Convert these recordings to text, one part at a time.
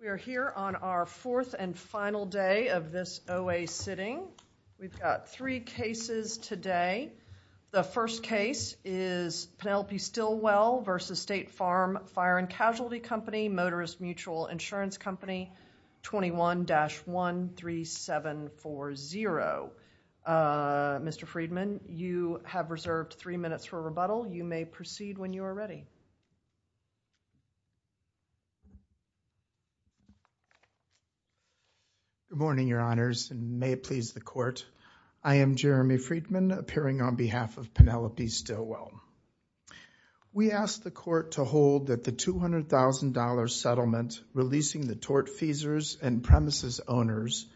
We are here on our fourth and final day of this OA sitting. We've got three cases today. The first case is Penelope Stillwell v. State Farm Fire & Casualty Company, Motorist Mutual Insurance Company 21-13740. Mr. Friedman, you have reserved three minutes for rebuttal. You may proceed when you are ready. Good morning, Your Honors, and may it please the Court. I am Jeremy Friedman, appearing on behalf of Penelope Stillwell. We ask the leasing the tort feasors and premises owners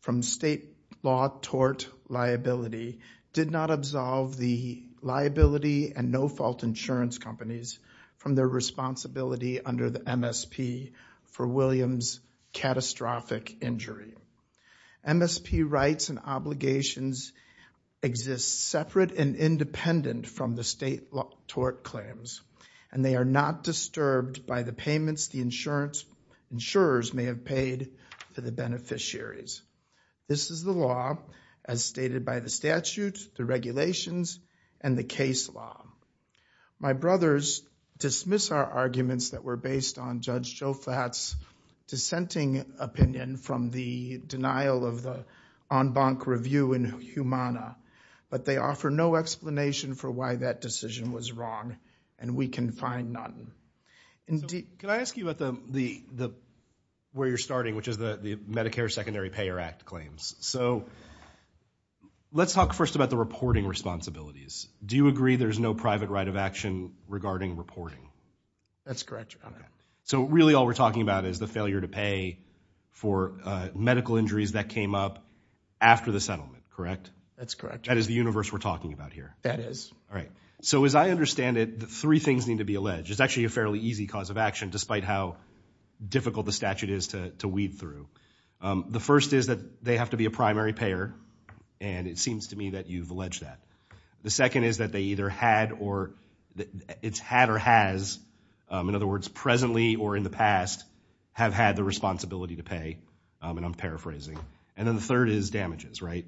from state law tort liability did not absolve the liability and no-fault insurance companies from their responsibility under the MSP for Williams' catastrophic injury. MSP rights and obligations exist separate and independent from the state law tort claims, and they are not disturbed by the payments the insurers may have paid to the beneficiaries. This is the law as stated by the statute, the regulations, and the case law. My brothers dismiss our arguments that were based on Judge Jofat's dissenting opinion from the denial of the en banc review in Humana, but they offer no explanation for why that decision was wrong, and we can find none. Can I ask you about where you're starting, which is the Medicare Secondary Payer Act claims? So, let's talk first about the reporting responsibilities. Do you agree there's no private right of action regarding reporting? That's correct, Your Honor. So really all we're talking about is the failure to pay for medical injuries that is the universe we're talking about here. That is. All right. So as I understand it, the three things need to be alleged. It's actually a fairly easy cause of action despite how difficult the statute is to weed through. The first is that they have to be a primary payer, and it seems to me that you've alleged that. The second is that they either had or it's had or has, in other words, presently or in the past, have had the responsibility to pay, and I'm paraphrasing. And then the third is damages, right?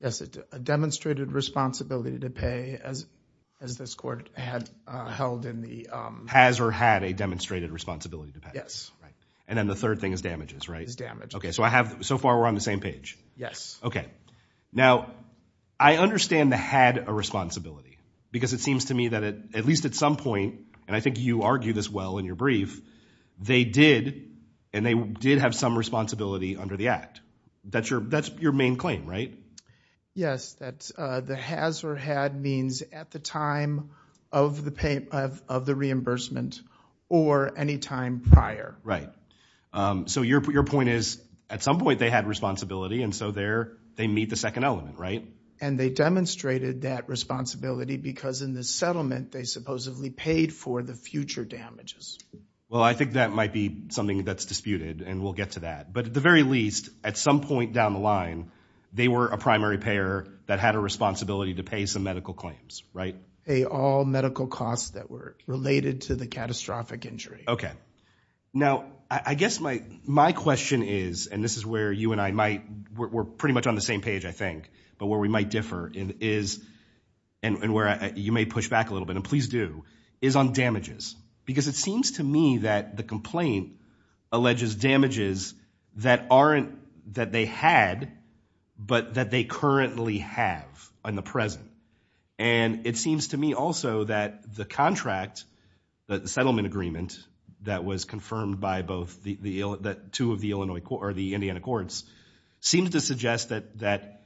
Yes, a demonstrated responsibility to pay as this court had held in the... Has or had a demonstrated responsibility to pay. Yes. Right. And then the third thing is damages, right? Is damages. Okay. So I have, so far we're on the same page. Yes. Okay. Now, I understand the had a responsibility because it seems to me that at least at some point, and I think you argue this well in your brief, they did, and they did have some responsibility under the act. That's your main claim, right? Yes. That the has or had means at the time of the reimbursement or any time prior. Right. So your point is at some point they had responsibility, and so there they meet the second element, right? And they demonstrated that responsibility because in the settlement they supposedly paid for the future damages. Well, I think that might be something that's disputed, and we'll get to that. But at the very least, at some point down the line, they were a primary payer that had a responsibility to pay some medical claims, right? Pay all medical costs that were related to the catastrophic injury. Okay. Now, I guess my question is, and this is where you and I might, we're pretty much on the same page, I think, but where we might differ is, and where you may push back a little bit, and please do, is on damages. Because it seems to me that the complaint alleges damages that aren't, that they had, but that they currently have in the present. And it seems to me also that the contract, the settlement agreement that was confirmed by both the two of the Illinois, or the Indiana courts, seems to suggest that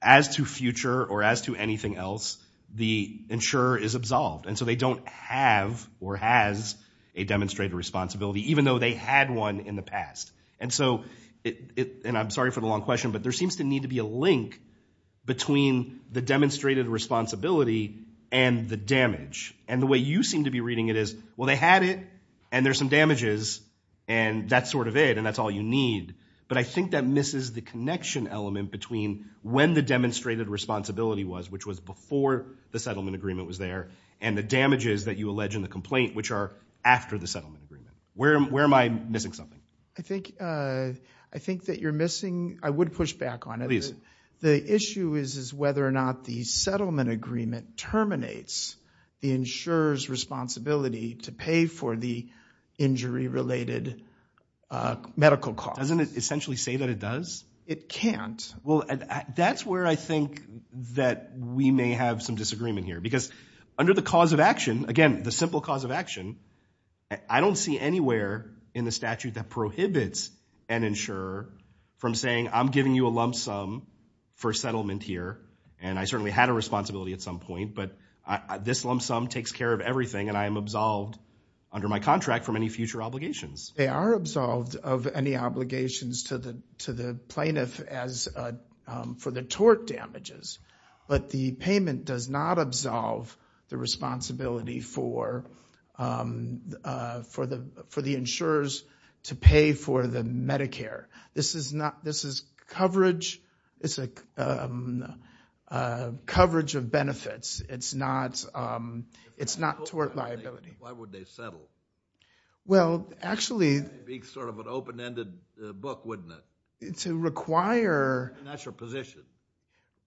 as to future or as to anything else, the insurer is absolved. And so they don't have or has a demonstrated responsibility, even though they had one in the past. And so, and I'm sorry for the long question, but there seems to need to be a link between the demonstrated responsibility and the damage. And the way you seem to be reading it is, well, they had it, and there's some damages, and that's sort of it, and that's all you need. But I think that misses the connection element between when the demonstrated responsibility was, which was before the settlement agreement was there, and the damages that you allege in the complaint, which are after the settlement agreement. Where am I missing something? I think that you're missing, I would push back on it. Please. The issue is whether or not the settlement agreement terminates the insurer's responsibility to pay for the injury-related medical costs. Doesn't it essentially say that it does? It can't. Well, that's where I think that we may have some disagreement here. Because under the cause of action, again, the simple cause of action, I don't see anywhere in the statute that prohibits an insurer from saying, I'm giving you a lump sum for settlement here, and I certainly had a responsibility at some point, but this lump sum takes care of everything, and I am absolved under my contract from any future obligations. They are absolved of any obligations to the plaintiff for the tort damages, but the payment does not absolve the responsibility for the insurers to pay for the Medicare. This is coverage, it's a coverage of benefits. It's not tort liability. Why would they settle? Well, actually— It would be sort of an open-ended book, wouldn't it? To require— That's your position.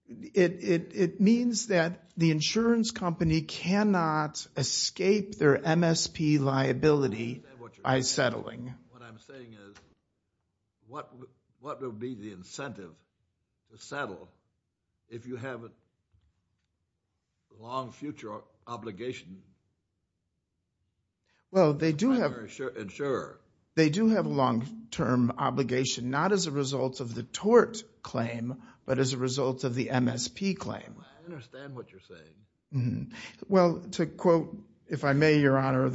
It means that the insurance company cannot escape their MSP liability by settling. What I'm saying is, what would be the incentive to settle if you have a long future obligation? Well, they do have— Insurer. They do have a long-term obligation, not as a result of the tort claim, but as a result of the MSP claim. I understand what you're saying. Well, to quote, if I may, Your Honor,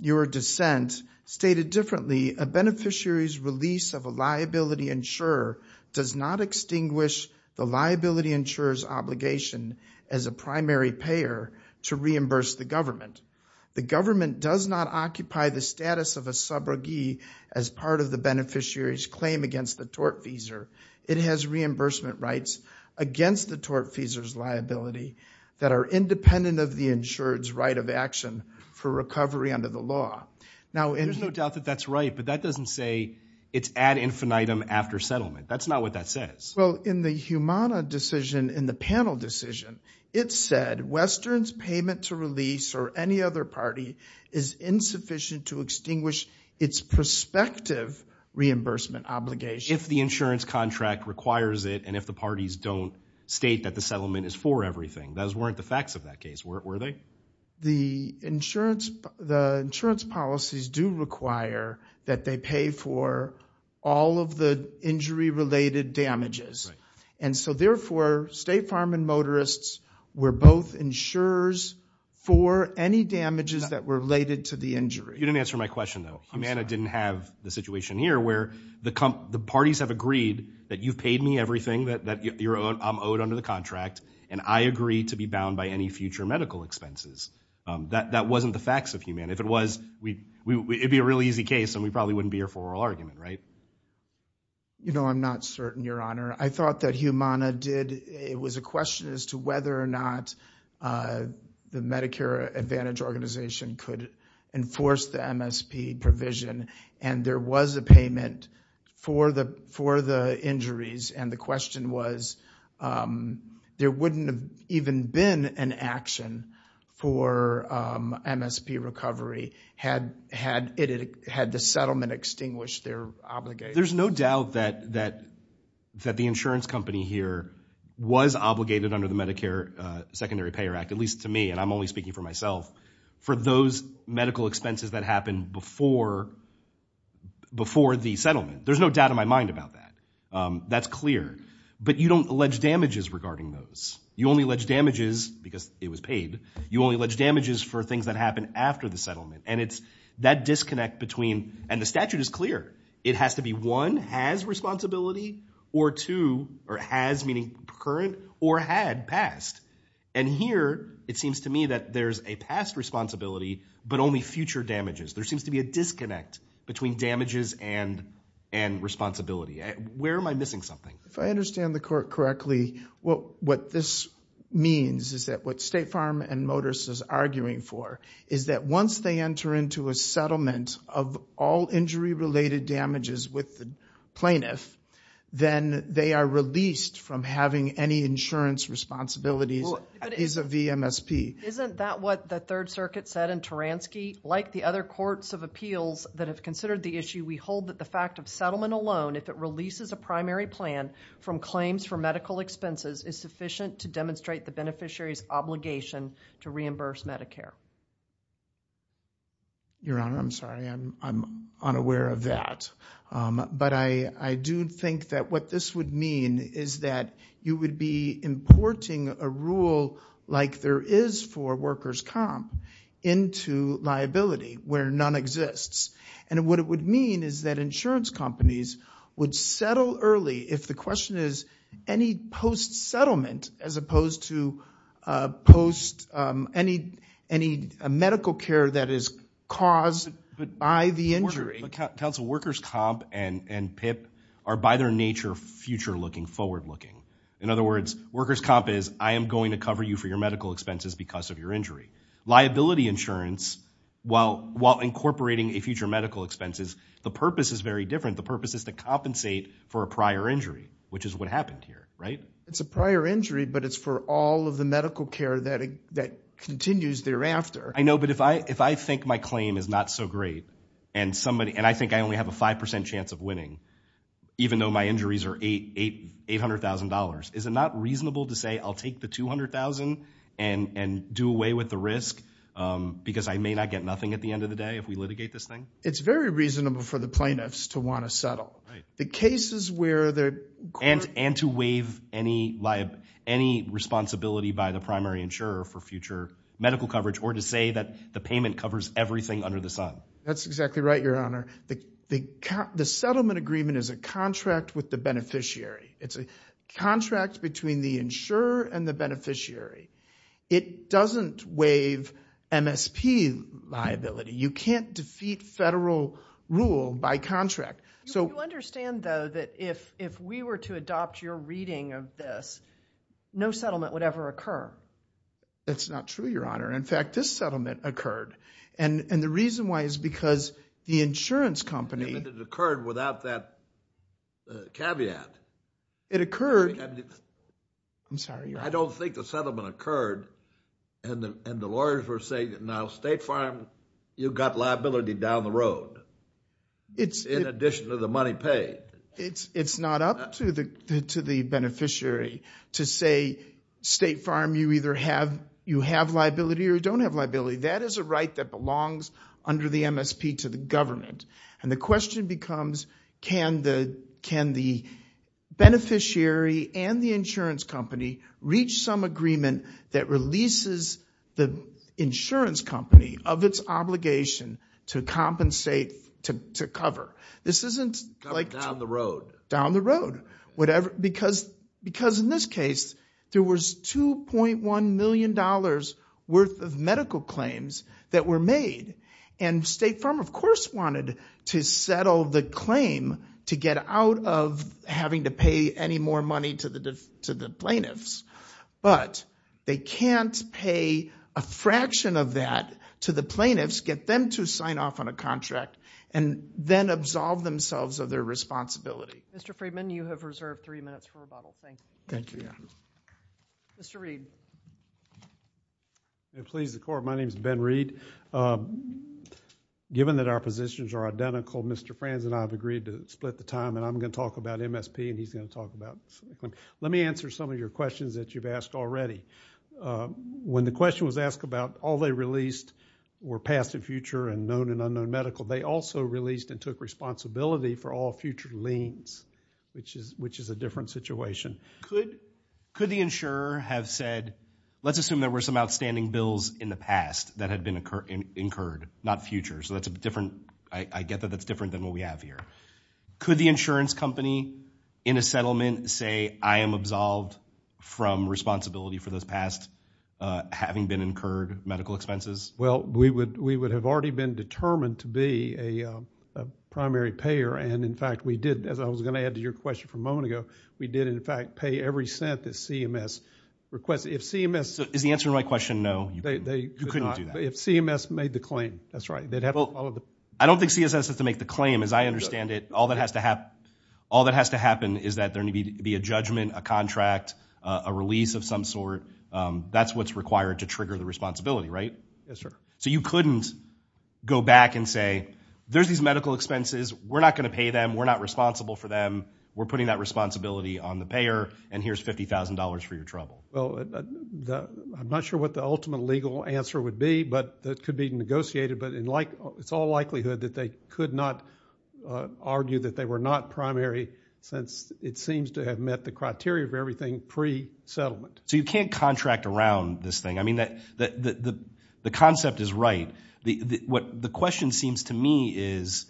your dissent stated differently, a beneficiary's release of a liability insurer does not extinguish the liability insurer's obligation as a primary payer to reimburse the government. The government does not occupy the status of a subrogee as part of the beneficiary's claim against the tortfeasor. It has reimbursement rights against the tortfeasor's liability that are independent of the insured's right of action for recovery under the law. There's no doubt that that's right, but that doesn't say it's ad infinitum after settlement. That's not what that says. Well, in the Humana decision, in the panel decision, it said Western's payment to release or any other party is insufficient to extinguish its prospective reimbursement obligation. If the insurance contract requires it and if the parties don't state that the settlement is for everything. Those weren't the facts of that case, were they? The insurance policies do require that they pay for all of the injury-related damages. And so, therefore, State Farm and motorists were both insurers for any damages that were related to the injury. You didn't answer my question, though. Humana didn't have the situation here where the parties have agreed that you've paid me everything that I'm owed under the contract, and I agree to be bound by any future medical expenses. That wasn't the facts of Humana. If it was, it'd be a really easy case and we probably wouldn't be here for oral argument, right? You know, I'm not certain, Your Honor. I thought that Humana did, it was a question as to whether or not the Medicare Advantage Organization could enforce the MSP provision, and there was a payment for the injuries, and the question was, there wouldn't have even been an action for MSP recovery had the settlement extinguished their obligation. There's no doubt that the insurance company here was obligated under the Medicare Secondary Payer Act, at least to me, and I'm only speaking for myself, for those medical expenses that happened before the settlement. There's no doubt in my mind about that. That's clear. But you don't allege damages regarding those. You only allege damages, because it was paid, you only allege damages for things that happened after the settlement, and it's that disconnect between, and the statute is clear. It has to be one, has responsibility, or two, or has, meaning current, or had, past. And here, it seems to me that there's a past responsibility, but only future damages. There seems to be a disconnect between damages and responsibility. Where am I missing something? If I understand the court correctly, what this means is that what State Farm and Motors is arguing for is that once they enter into a settlement of all injury-related damages with the plaintiff, then they are released from having any insurance responsibilities vis-à-vis MSP. Isn't that what the Third Circuit said in Taranski? Like the other courts of appeals that have considered the issue, we hold that the fact of settlement alone, if it releases a primary plan from claims for medical expenses, is sufficient to demonstrate the beneficiary's obligation to reimburse Medicare. Your Honor, I'm sorry. I'm unaware of that. But I do think that what this would mean is that you would be importing a rule like there is for workers' comp into liability where none exists. And what it would mean is that insurance companies would settle early if the question is any post-settlement, as opposed to post any medical care that is caused by the injury. Counsel, workers' comp and PIP are, by their nature, future-looking, forward-looking. In other words, workers' comp is, I am going to cover you for your medical expenses because of your injury. Liability insurance, while incorporating a future medical expenses, the purpose is very different. The purpose is to compensate for a prior injury, which is what happened here, right? It's a prior injury, but it's for all of the medical care that continues thereafter. I know, but if I think my claim is not so great, and I think I only have a 5% chance of winning, even though my injuries are $800,000, is it not reasonable to say I'll take the $200,000 and do away with the risk because I may not get nothing at the end of the day if we litigate this thing? It's very reasonable for the plaintiffs to want to settle. And to waive any responsibility by the primary insurer for future medical coverage, or to say that the payment covers everything under the sun. That's exactly right, Your Honor. The settlement agreement is a contract with the beneficiary. It's a contract between the insurer and the beneficiary. It doesn't waive MSP liability. You can't defeat federal rule by contract. You understand, though, that if we were to adopt your reading of this, no settlement would ever occur? That's not true, Your Honor. In fact, this settlement occurred. And the reason why is because the insurance company... It occurred without that caveat. It occurred... I'm sorry, Your Honor. I don't think the settlement occurred, and the lawyers were saying, now State Farm, you've got liability down the road, in addition to the money paid. It's not up to the beneficiary to say, State Farm, you either have liability or don't have liability. That is a right that belongs under the MSP to the government. And the question becomes, can the beneficiary and the insurance company reach some agreement that releases the insurance company of its obligation to compensate, to cover? This isn't like... Down the road. Down the road. Because in this case, there was $2.1 million worth of medical claims that were made. And State Farm, of course, wanted to settle the claim to get out of having to pay any more money to the plaintiffs. But they can't pay a fraction of that to the plaintiffs, get them to sign off on a contract, and then absolve themselves of their responsibility. Mr. Friedman, you have reserved three minutes for rebuttal. Thank you. Thank you, Your Honor. Mr. Reed. If it pleases the Court, my name is Ben Reed. Given that our positions are identical, Mr. Franz and I have agreed to split the time, and I'm going to talk about MSP and he's going to talk about... Let me answer some of your questions that you've asked already. When the question was asked about all they released were past and future and known and unknown medical, they also released and took responsibility for all future liens, which is a different situation. Could the insurer have said, let's assume there were some outstanding bills in the past that had been incurred, not future, so that's a different... I get that that's different than what we have here. Could the insurance company in a settlement say, I am absolved from responsibility for those past having been incurred medical expenses? Well, we would have already been determined to be a primary payer, and, in fact, we did, as I was going to add to your question from a moment ago, we did, in fact, pay every cent that CMS requested. Is the answer to my question no? You couldn't do that. If CMS made the claim, that's right. I don't think CMS has to make the claim, as I understand it. All that has to happen is that there needs to be a judgment, a contract, a release of some sort. That's what's required to trigger the responsibility, right? Yes, sir. So you couldn't go back and say, there's these medical expenses. We're not going to pay them. We're not responsible for them. We're putting that responsibility on the payer, and here's $50,000 for your trouble. Well, I'm not sure what the ultimate legal answer would be, but that could be negotiated, but it's all likelihood that they could not argue that they were not primary since it seems to have met the criteria for everything pre-settlement. So you can't contract around this thing. I mean, the concept is right. The question seems to me is,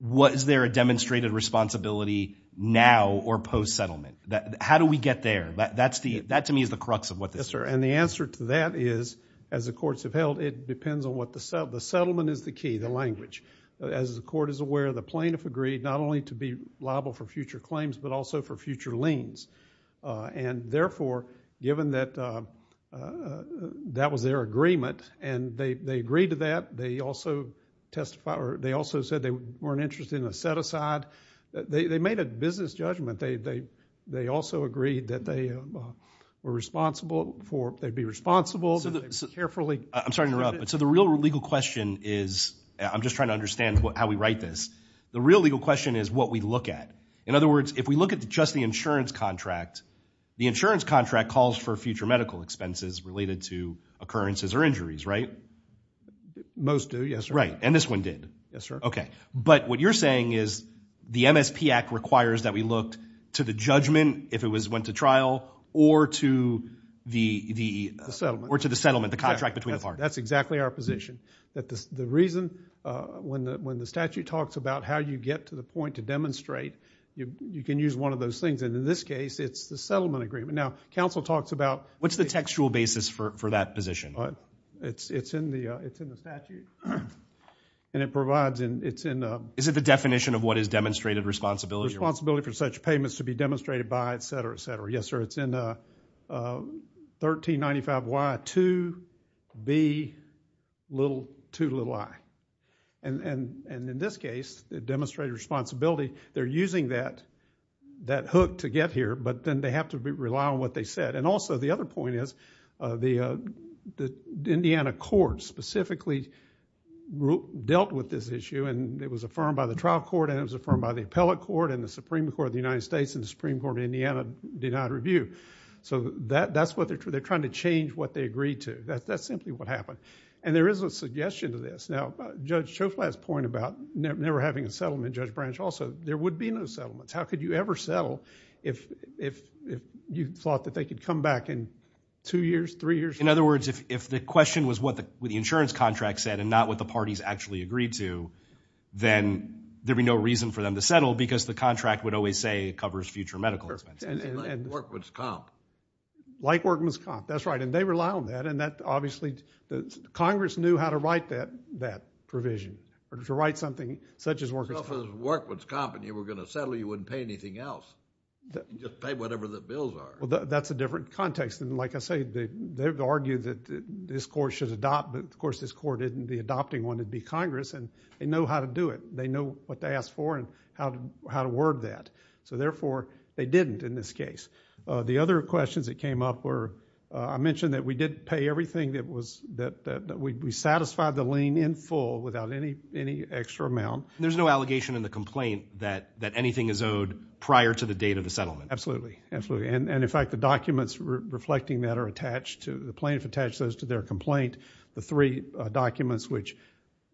was there a demonstrated responsibility now or post-settlement? How do we get there? That, to me, is the crux of what this is. Yes, sir, and the answer to that is, as the courts have held, it depends on what the settlement is the key, the language. As the court is aware, the plaintiff agreed not only to be liable for future claims, but also for future liens, and therefore, given that that was their agreement and they agreed to that, they also said they weren't interested in a set-aside. They made a business judgment. They also agreed that they'd be responsible. I'm sorry to interrupt, but so the real legal question is— I'm just trying to understand how we write this. The real legal question is what we look at. In other words, if we look at just the insurance contract, the insurance contract calls for future medical expenses related to occurrences or injuries, right? Most do, yes, sir. Right, and this one did. Yes, sir. Okay, but what you're saying is the MSP Act requires that we look to the judgment, if it went to trial, or to the settlement, the contract between the parties. That's exactly our position. The reason, when the statute talks about how you get to the point to demonstrate, you can use one of those things, and in this case, it's the settlement agreement. Now, counsel talks about— What's the textual basis for that position? It's in the statute, and it provides— Is it the definition of what is demonstrated responsibility? Responsibility for such payments to be demonstrated by, et cetera, et cetera. Yes, sir. It's in 1395Y2B2i. In this case, the demonstrated responsibility, they're using that hook to get here, but then they have to rely on what they said. Also, the other point is the Indiana court specifically dealt with this issue, and it was affirmed by the trial court, and it was affirmed by the appellate court, and the Supreme Court of the United States, and the Supreme Court of Indiana did not review. That's what they're—they're trying to change what they agreed to. That's simply what happened, and there is a suggestion to this. Now, Judge Schofield's point about never having a settlement, Judge Branch also, there would be no settlements. How could you ever settle if you thought that they could come back in two years, three years? In other words, if the question was what the insurance contract said and not what the parties actually agreed to, then there'd be no reason for them to settle because the contract would always say it covers future medical expenses. Like Workman's Comp. Like Workman's Comp, that's right, and they rely on that, and that obviously—Congress knew how to write that provision, or to write something such as Workman's Comp. If it was Workman's Comp and you were going to settle, you wouldn't pay anything else. You'd just pay whatever the bills are. Well, that's a different context, and like I say, they've argued that this court should adopt, but of course this court isn't the adopting one. It'd be Congress, and they know how to do it. They know what to ask for and how to word that, so therefore they didn't in this case. The other questions that came up were— I mentioned that we did pay everything that was— that we satisfied the lien in full without any extra amount. There's no allegation in the complaint that anything is owed prior to the date of the settlement. Absolutely, absolutely, and in fact the documents reflecting that are attached to— the plaintiff attached those to their complaint. The three documents which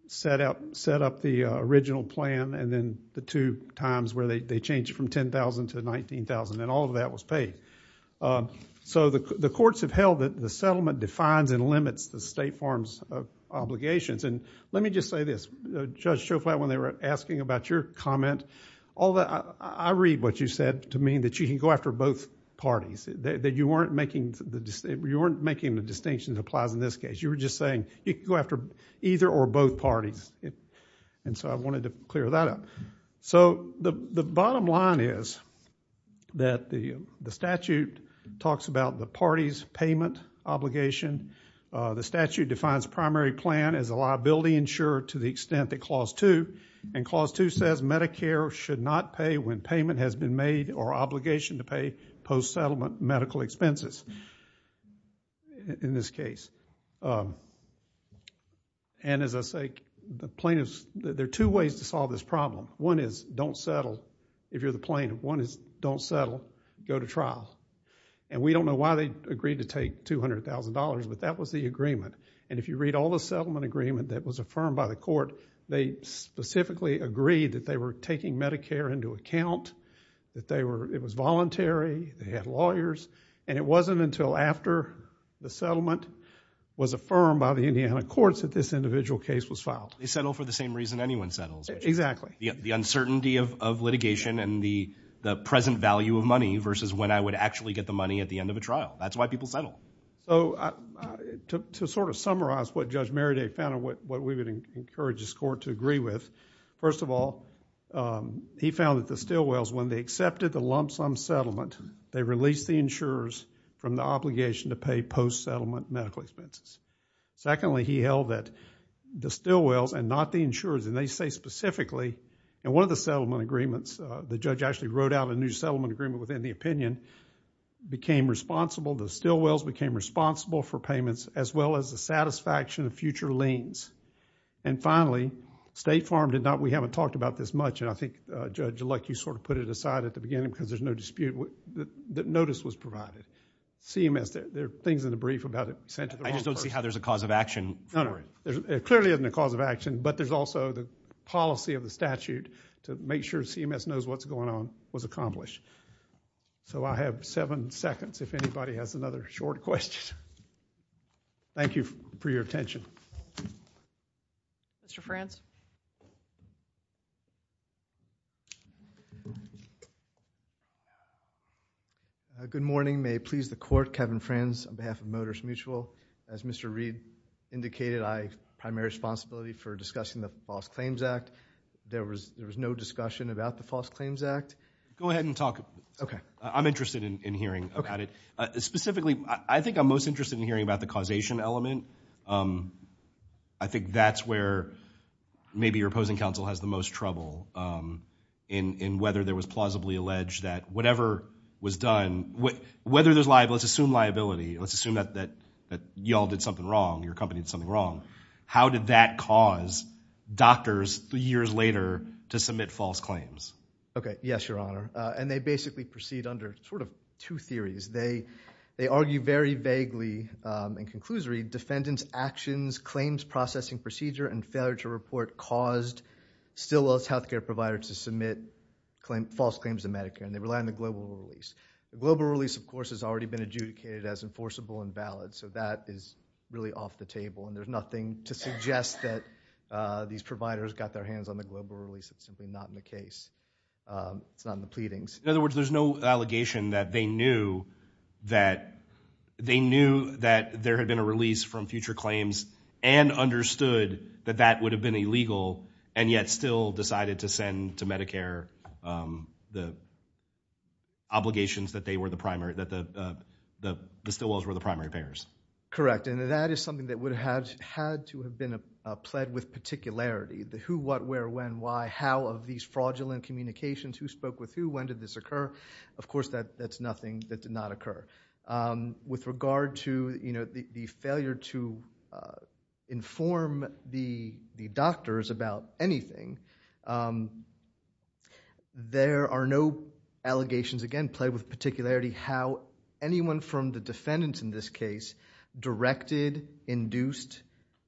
set up the original plan and then the two times where they changed it from $10,000 to $19,000, and all of that was paid. The courts have held that the settlement defines and limits the State Farm's obligations. Let me just say this. Judge Schofield, when they were asking about your comment, I read what you said to mean that you can go after both parties, that you weren't making the distinction that applies in this case. You were just saying you can go after either or both parties, and so I wanted to clear that up. So the bottom line is that the statute talks about the party's payment obligation. The statute defines primary plan as a liability insured to the extent that Clause 2, and Clause 2 says Medicare should not pay when payment has been made or obligation to pay post-settlement medical expenses in this case. As I say, there are two ways to solve this problem. One is don't settle if you're the plaintiff. One is don't settle, go to trial. We don't know why they agreed to take $200,000, but that was the agreement. If you read all the settlement agreement that was affirmed by the court, they specifically agreed that they were taking Medicare into account, that it was voluntary, they had lawyers, and it wasn't until after the settlement was affirmed by the Indiana courts that this individual case was filed. They settle for the same reason anyone settles. Exactly. The uncertainty of litigation and the present value of money versus when I would actually get the money at the end of a trial. That's why people settle. To sort of summarize what Judge Merriday found and what we would encourage this court to agree with, first of all, he found that the Stilwells, when they accepted the lump sum settlement, they released the insurers from the obligation to pay post-settlement medical expenses. Secondly, he held that the Stilwells and not the insurers, and they say specifically in one of the settlement agreements, the judge actually wrote out a new settlement agreement within the opinion, became responsible, the Stilwells became responsible for payments as well as the satisfaction of future liens. And finally, State Farm did not, we haven't talked about this much, and I think, Judge Luck, you sort of put it aside at the beginning because there's no dispute that notice was provided. CMS, there are things in the brief about it sent to the wrong person. I just don't see how there's a cause of action for it. There clearly isn't a cause of action, but there's also the policy of the statute to make sure CMS knows what's going on was accomplished. So I have seven seconds if anybody has another short question. Thank you for your attention. Mr. Franz. Good morning. May it please the Court, Kevin Franz on behalf of Motors Mutual. As Mr. Reed indicated, I have primary responsibility for discussing the False Claims Act. There was no discussion about the False Claims Act. Go ahead and talk. Okay. I'm interested in hearing about it. Specifically, I think I'm most interested in hearing about the causation element. I think that's where maybe your opposing counsel has the most trouble in whether there was plausibly alleged that whatever was done, whether there's liability, let's assume liability, let's assume that you all did something wrong, your company did something wrong. How did that cause doctors years later to submit false claims? Okay. Yes, Your Honor. And they basically proceed under sort of two theories. They argue very vaguely and conclusory, defendants' actions, claims processing procedure, and failure to report caused Stillwell's healthcare provider to submit false claims to Medicare, and they rely on the global release. The global release, of course, has already been adjudicated as enforceable and valid, so that is really off the table, and there's nothing to suggest that these providers got their hands on the global release. It's simply not in the case. It's not in the pleadings. In other words, there's no allegation that they knew that there had been a release from future claims and understood that that would have been illegal and yet still decided to send to Medicare the obligations that the Stillwells were the primary payers. Correct. And that is something that would have had to have been a pled with particularity, the who, what, where, when, why, how of these fraudulent communications, who spoke with who, when did this occur. Of course, that's nothing that did not occur. With regard to the failure to inform the doctors about anything, there are no allegations, again, pled with particularity how anyone from the defendants in this case directed, induced,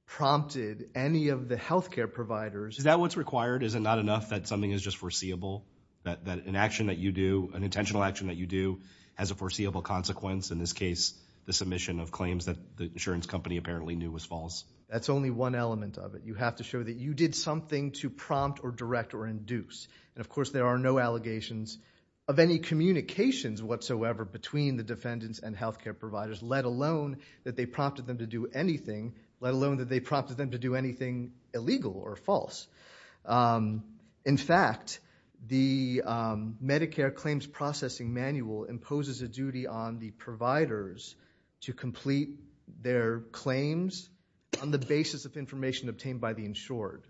prompted any of the healthcare providers. Is that what's required? Is it not enough that something is just foreseeable, that an action that you do, an intentional action that you do, has a foreseeable consequence, in this case, the submission of claims that the insurance company apparently knew was false? That's only one element of it. You have to show that you did something to prompt or direct or induce. And of course, there are no allegations of any communications whatsoever between the defendants and healthcare providers, let alone that they prompted them to do anything, let alone that they prompted them to do anything illegal or false. In fact, the Medicare claims processing manual imposes a duty on the providers to complete their claims on the basis of information obtained by the insured.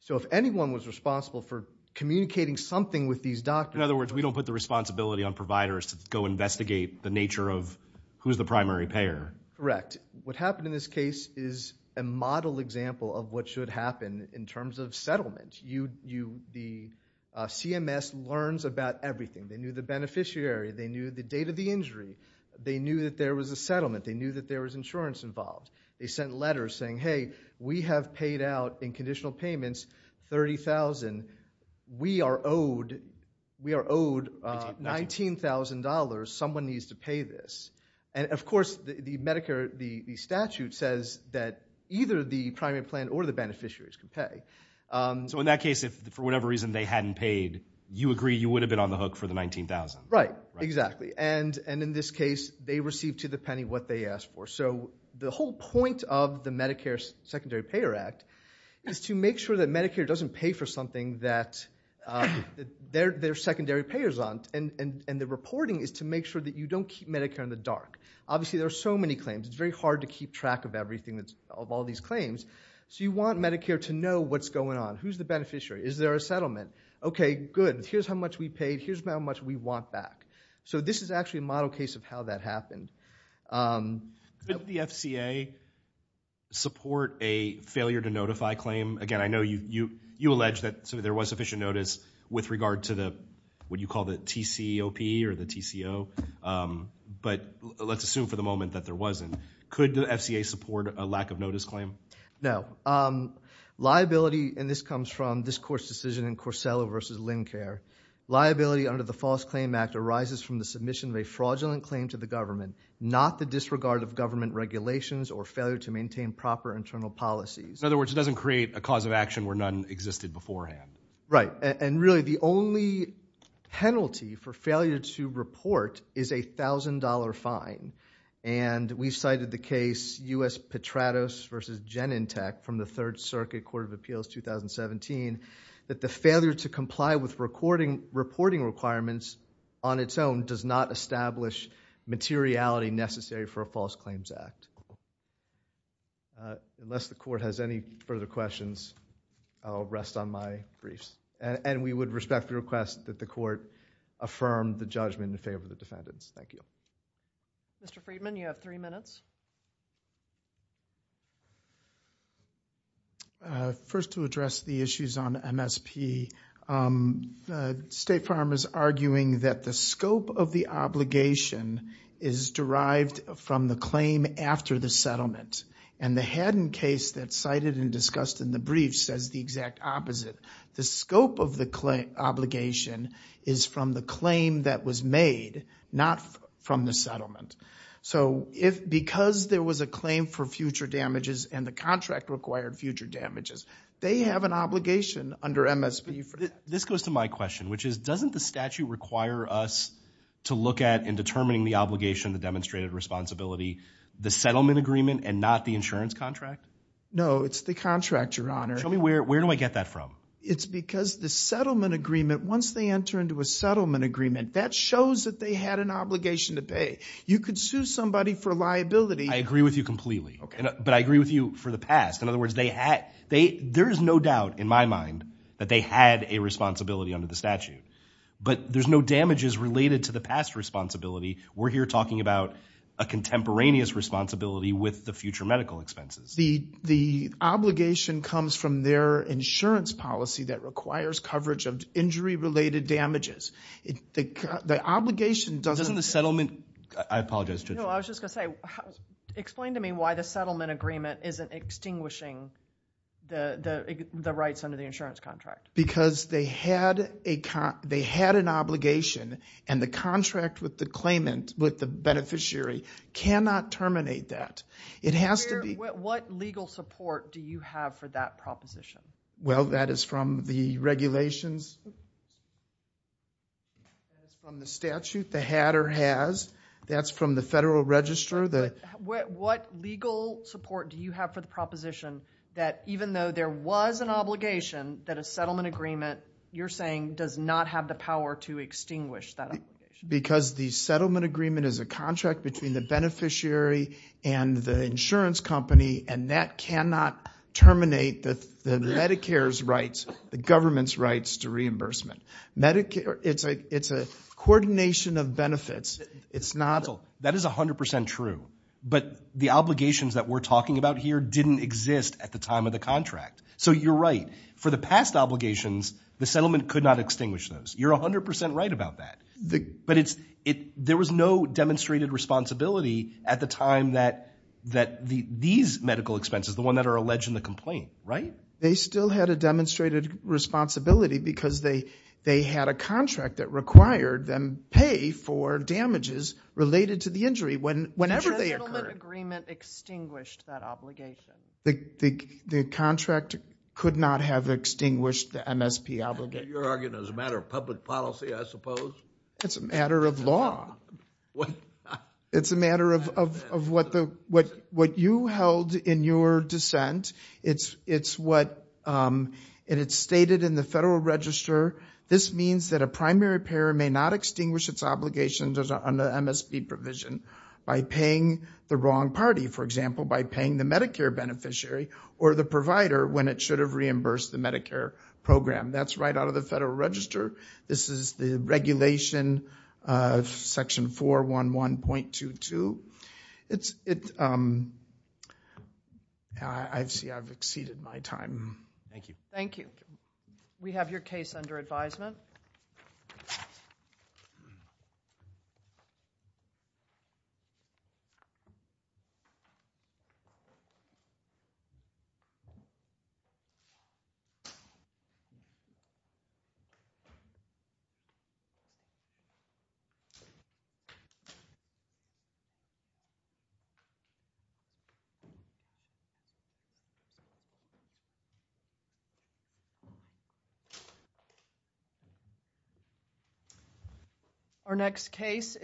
So if anyone was responsible for communicating something with these doctors In other words, we don't put the responsibility on providers to go investigate the nature of who's the primary payer. Correct. What happened in this case is a model example of what should happen in terms of settlement. The CMS learns about everything. They knew the beneficiary. They knew the date of the injury. They knew that there was a settlement. They knew that there was insurance involved. They sent letters saying, Hey, we have paid out in conditional payments $30,000. We are owed $19,000. Someone needs to pay this. And of course, the Medicare statute says that either the primary plan or the beneficiaries can pay. So in that case, if for whatever reason they hadn't paid, you agree you would have been on the hook for the $19,000. Right, exactly. And in this case, they received to the penny what they asked for. So the whole point of the Medicare Secondary Payer Act is to make sure that Medicare doesn't pay for something that they're secondary payers on. And the reporting is to make sure that you don't keep Medicare in the dark. Obviously, there are so many claims. It's very hard to keep track of all these claims. So you want Medicare to know what's going on. Who's the beneficiary? Is there a settlement? Okay, good. Here's how much we paid. Here's how much we want back. So this is actually a model case of how that happened. Could the FCA support a failure to notify claim? Again, I know you allege that there was sufficient notice with regard to what you call the TCOP or the TCO. But let's assume for the moment that there wasn't. Could the FCA support a lack of notice claim? No. Liability, and this comes from this court's decision in Corsello v. Lincare, liability under the False Claim Act arises from the submission of a fraudulent claim to the government, not the disregard of government regulations or failure to maintain proper internal policies. In other words, it doesn't create a cause of action where none existed beforehand. Right, and really the only penalty for failure to report is a $1,000 fine. And we've cited the case U.S. Petratos v. Genentech from the Third Circuit Court of Appeals 2017 that the failure to comply with reporting requirements on its own does not establish materiality necessary for a False Claims Act. Unless the court has any further questions, I'll rest on my briefs. And we would respectfully request that the court affirm the judgment in favor of the defendants. Thank you. Mr. Friedman, you have three minutes. First, to address the issues on MSP, State Farm is arguing that the scope of the obligation is derived from the claim after the settlement. And the Haddon case that's cited and discussed in the brief says the exact opposite. The scope of the obligation is from the claim that was made, not from the settlement. So because there was a claim for future damages and the contract required future damages, they have an obligation under MSP for that. This goes to my question, which is, doesn't the statute require us to look at in determining the obligation, the demonstrated responsibility, the settlement agreement and not the insurance contract? No, it's the contract, Your Honor. Tell me, where do I get that from? It's because the settlement agreement, once they enter into a settlement agreement, that shows that they had an obligation to pay. You could sue somebody for liability. I agree with you completely. But I agree with you for the past. In other words, there's no doubt in my mind that they had a responsibility under the statute. But there's no damages related to the past responsibility. We're here talking about a contemporaneous responsibility with the future medical expenses. The obligation comes from their insurance policy that requires coverage of injury-related damages. The obligation doesn't... Doesn't the settlement... I apologize, Judge. No, I was just going to say, explain to me why the settlement agreement isn't extinguishing the rights under the insurance contract. Because they had an obligation, and the contract with the claimant, with the beneficiary, cannot terminate that. It has to be... What legal support do you have for that proposition? Well, that is from the regulations. That's from the statute. The had or has. That's from the Federal Register. What legal support do you have for the proposition that even though there was an obligation, that a settlement agreement, you're saying, does not have the power to extinguish that obligation? Because the settlement agreement is a contract between the beneficiary and the insurance company, and that cannot terminate the Medicare's rights, the government's rights to reimbursement. It's a coordination of benefits. That is 100% true. But the obligations that we're talking about here didn't exist at the time of the contract. So you're right. For the past obligations, the settlement could not extinguish those. You're 100% right about that. But there was no demonstrated responsibility at the time that these medical expenses, the one that are alleged in the complaint, right? They still had a demonstrated responsibility because they had a contract that required them pay for damages related to the injury whenever they occurred. The settlement agreement extinguished that obligation. The contract could not have extinguished the MSP obligation. You're arguing it was a matter of public policy, I suppose. It's a matter of law. It's a matter of what you held in your dissent. It's stated in the Federal Register, this means that a primary payer may not extinguish its obligations under MSP provision by paying the wrong party. For example, by paying the Medicare beneficiary or the provider when it should have reimbursed the Medicare program. That's right out of the Federal Register. This is the regulation, Section 411.22. I see I've exceeded my time. Thank you. Thank you. We have your case under advisement. Thank you.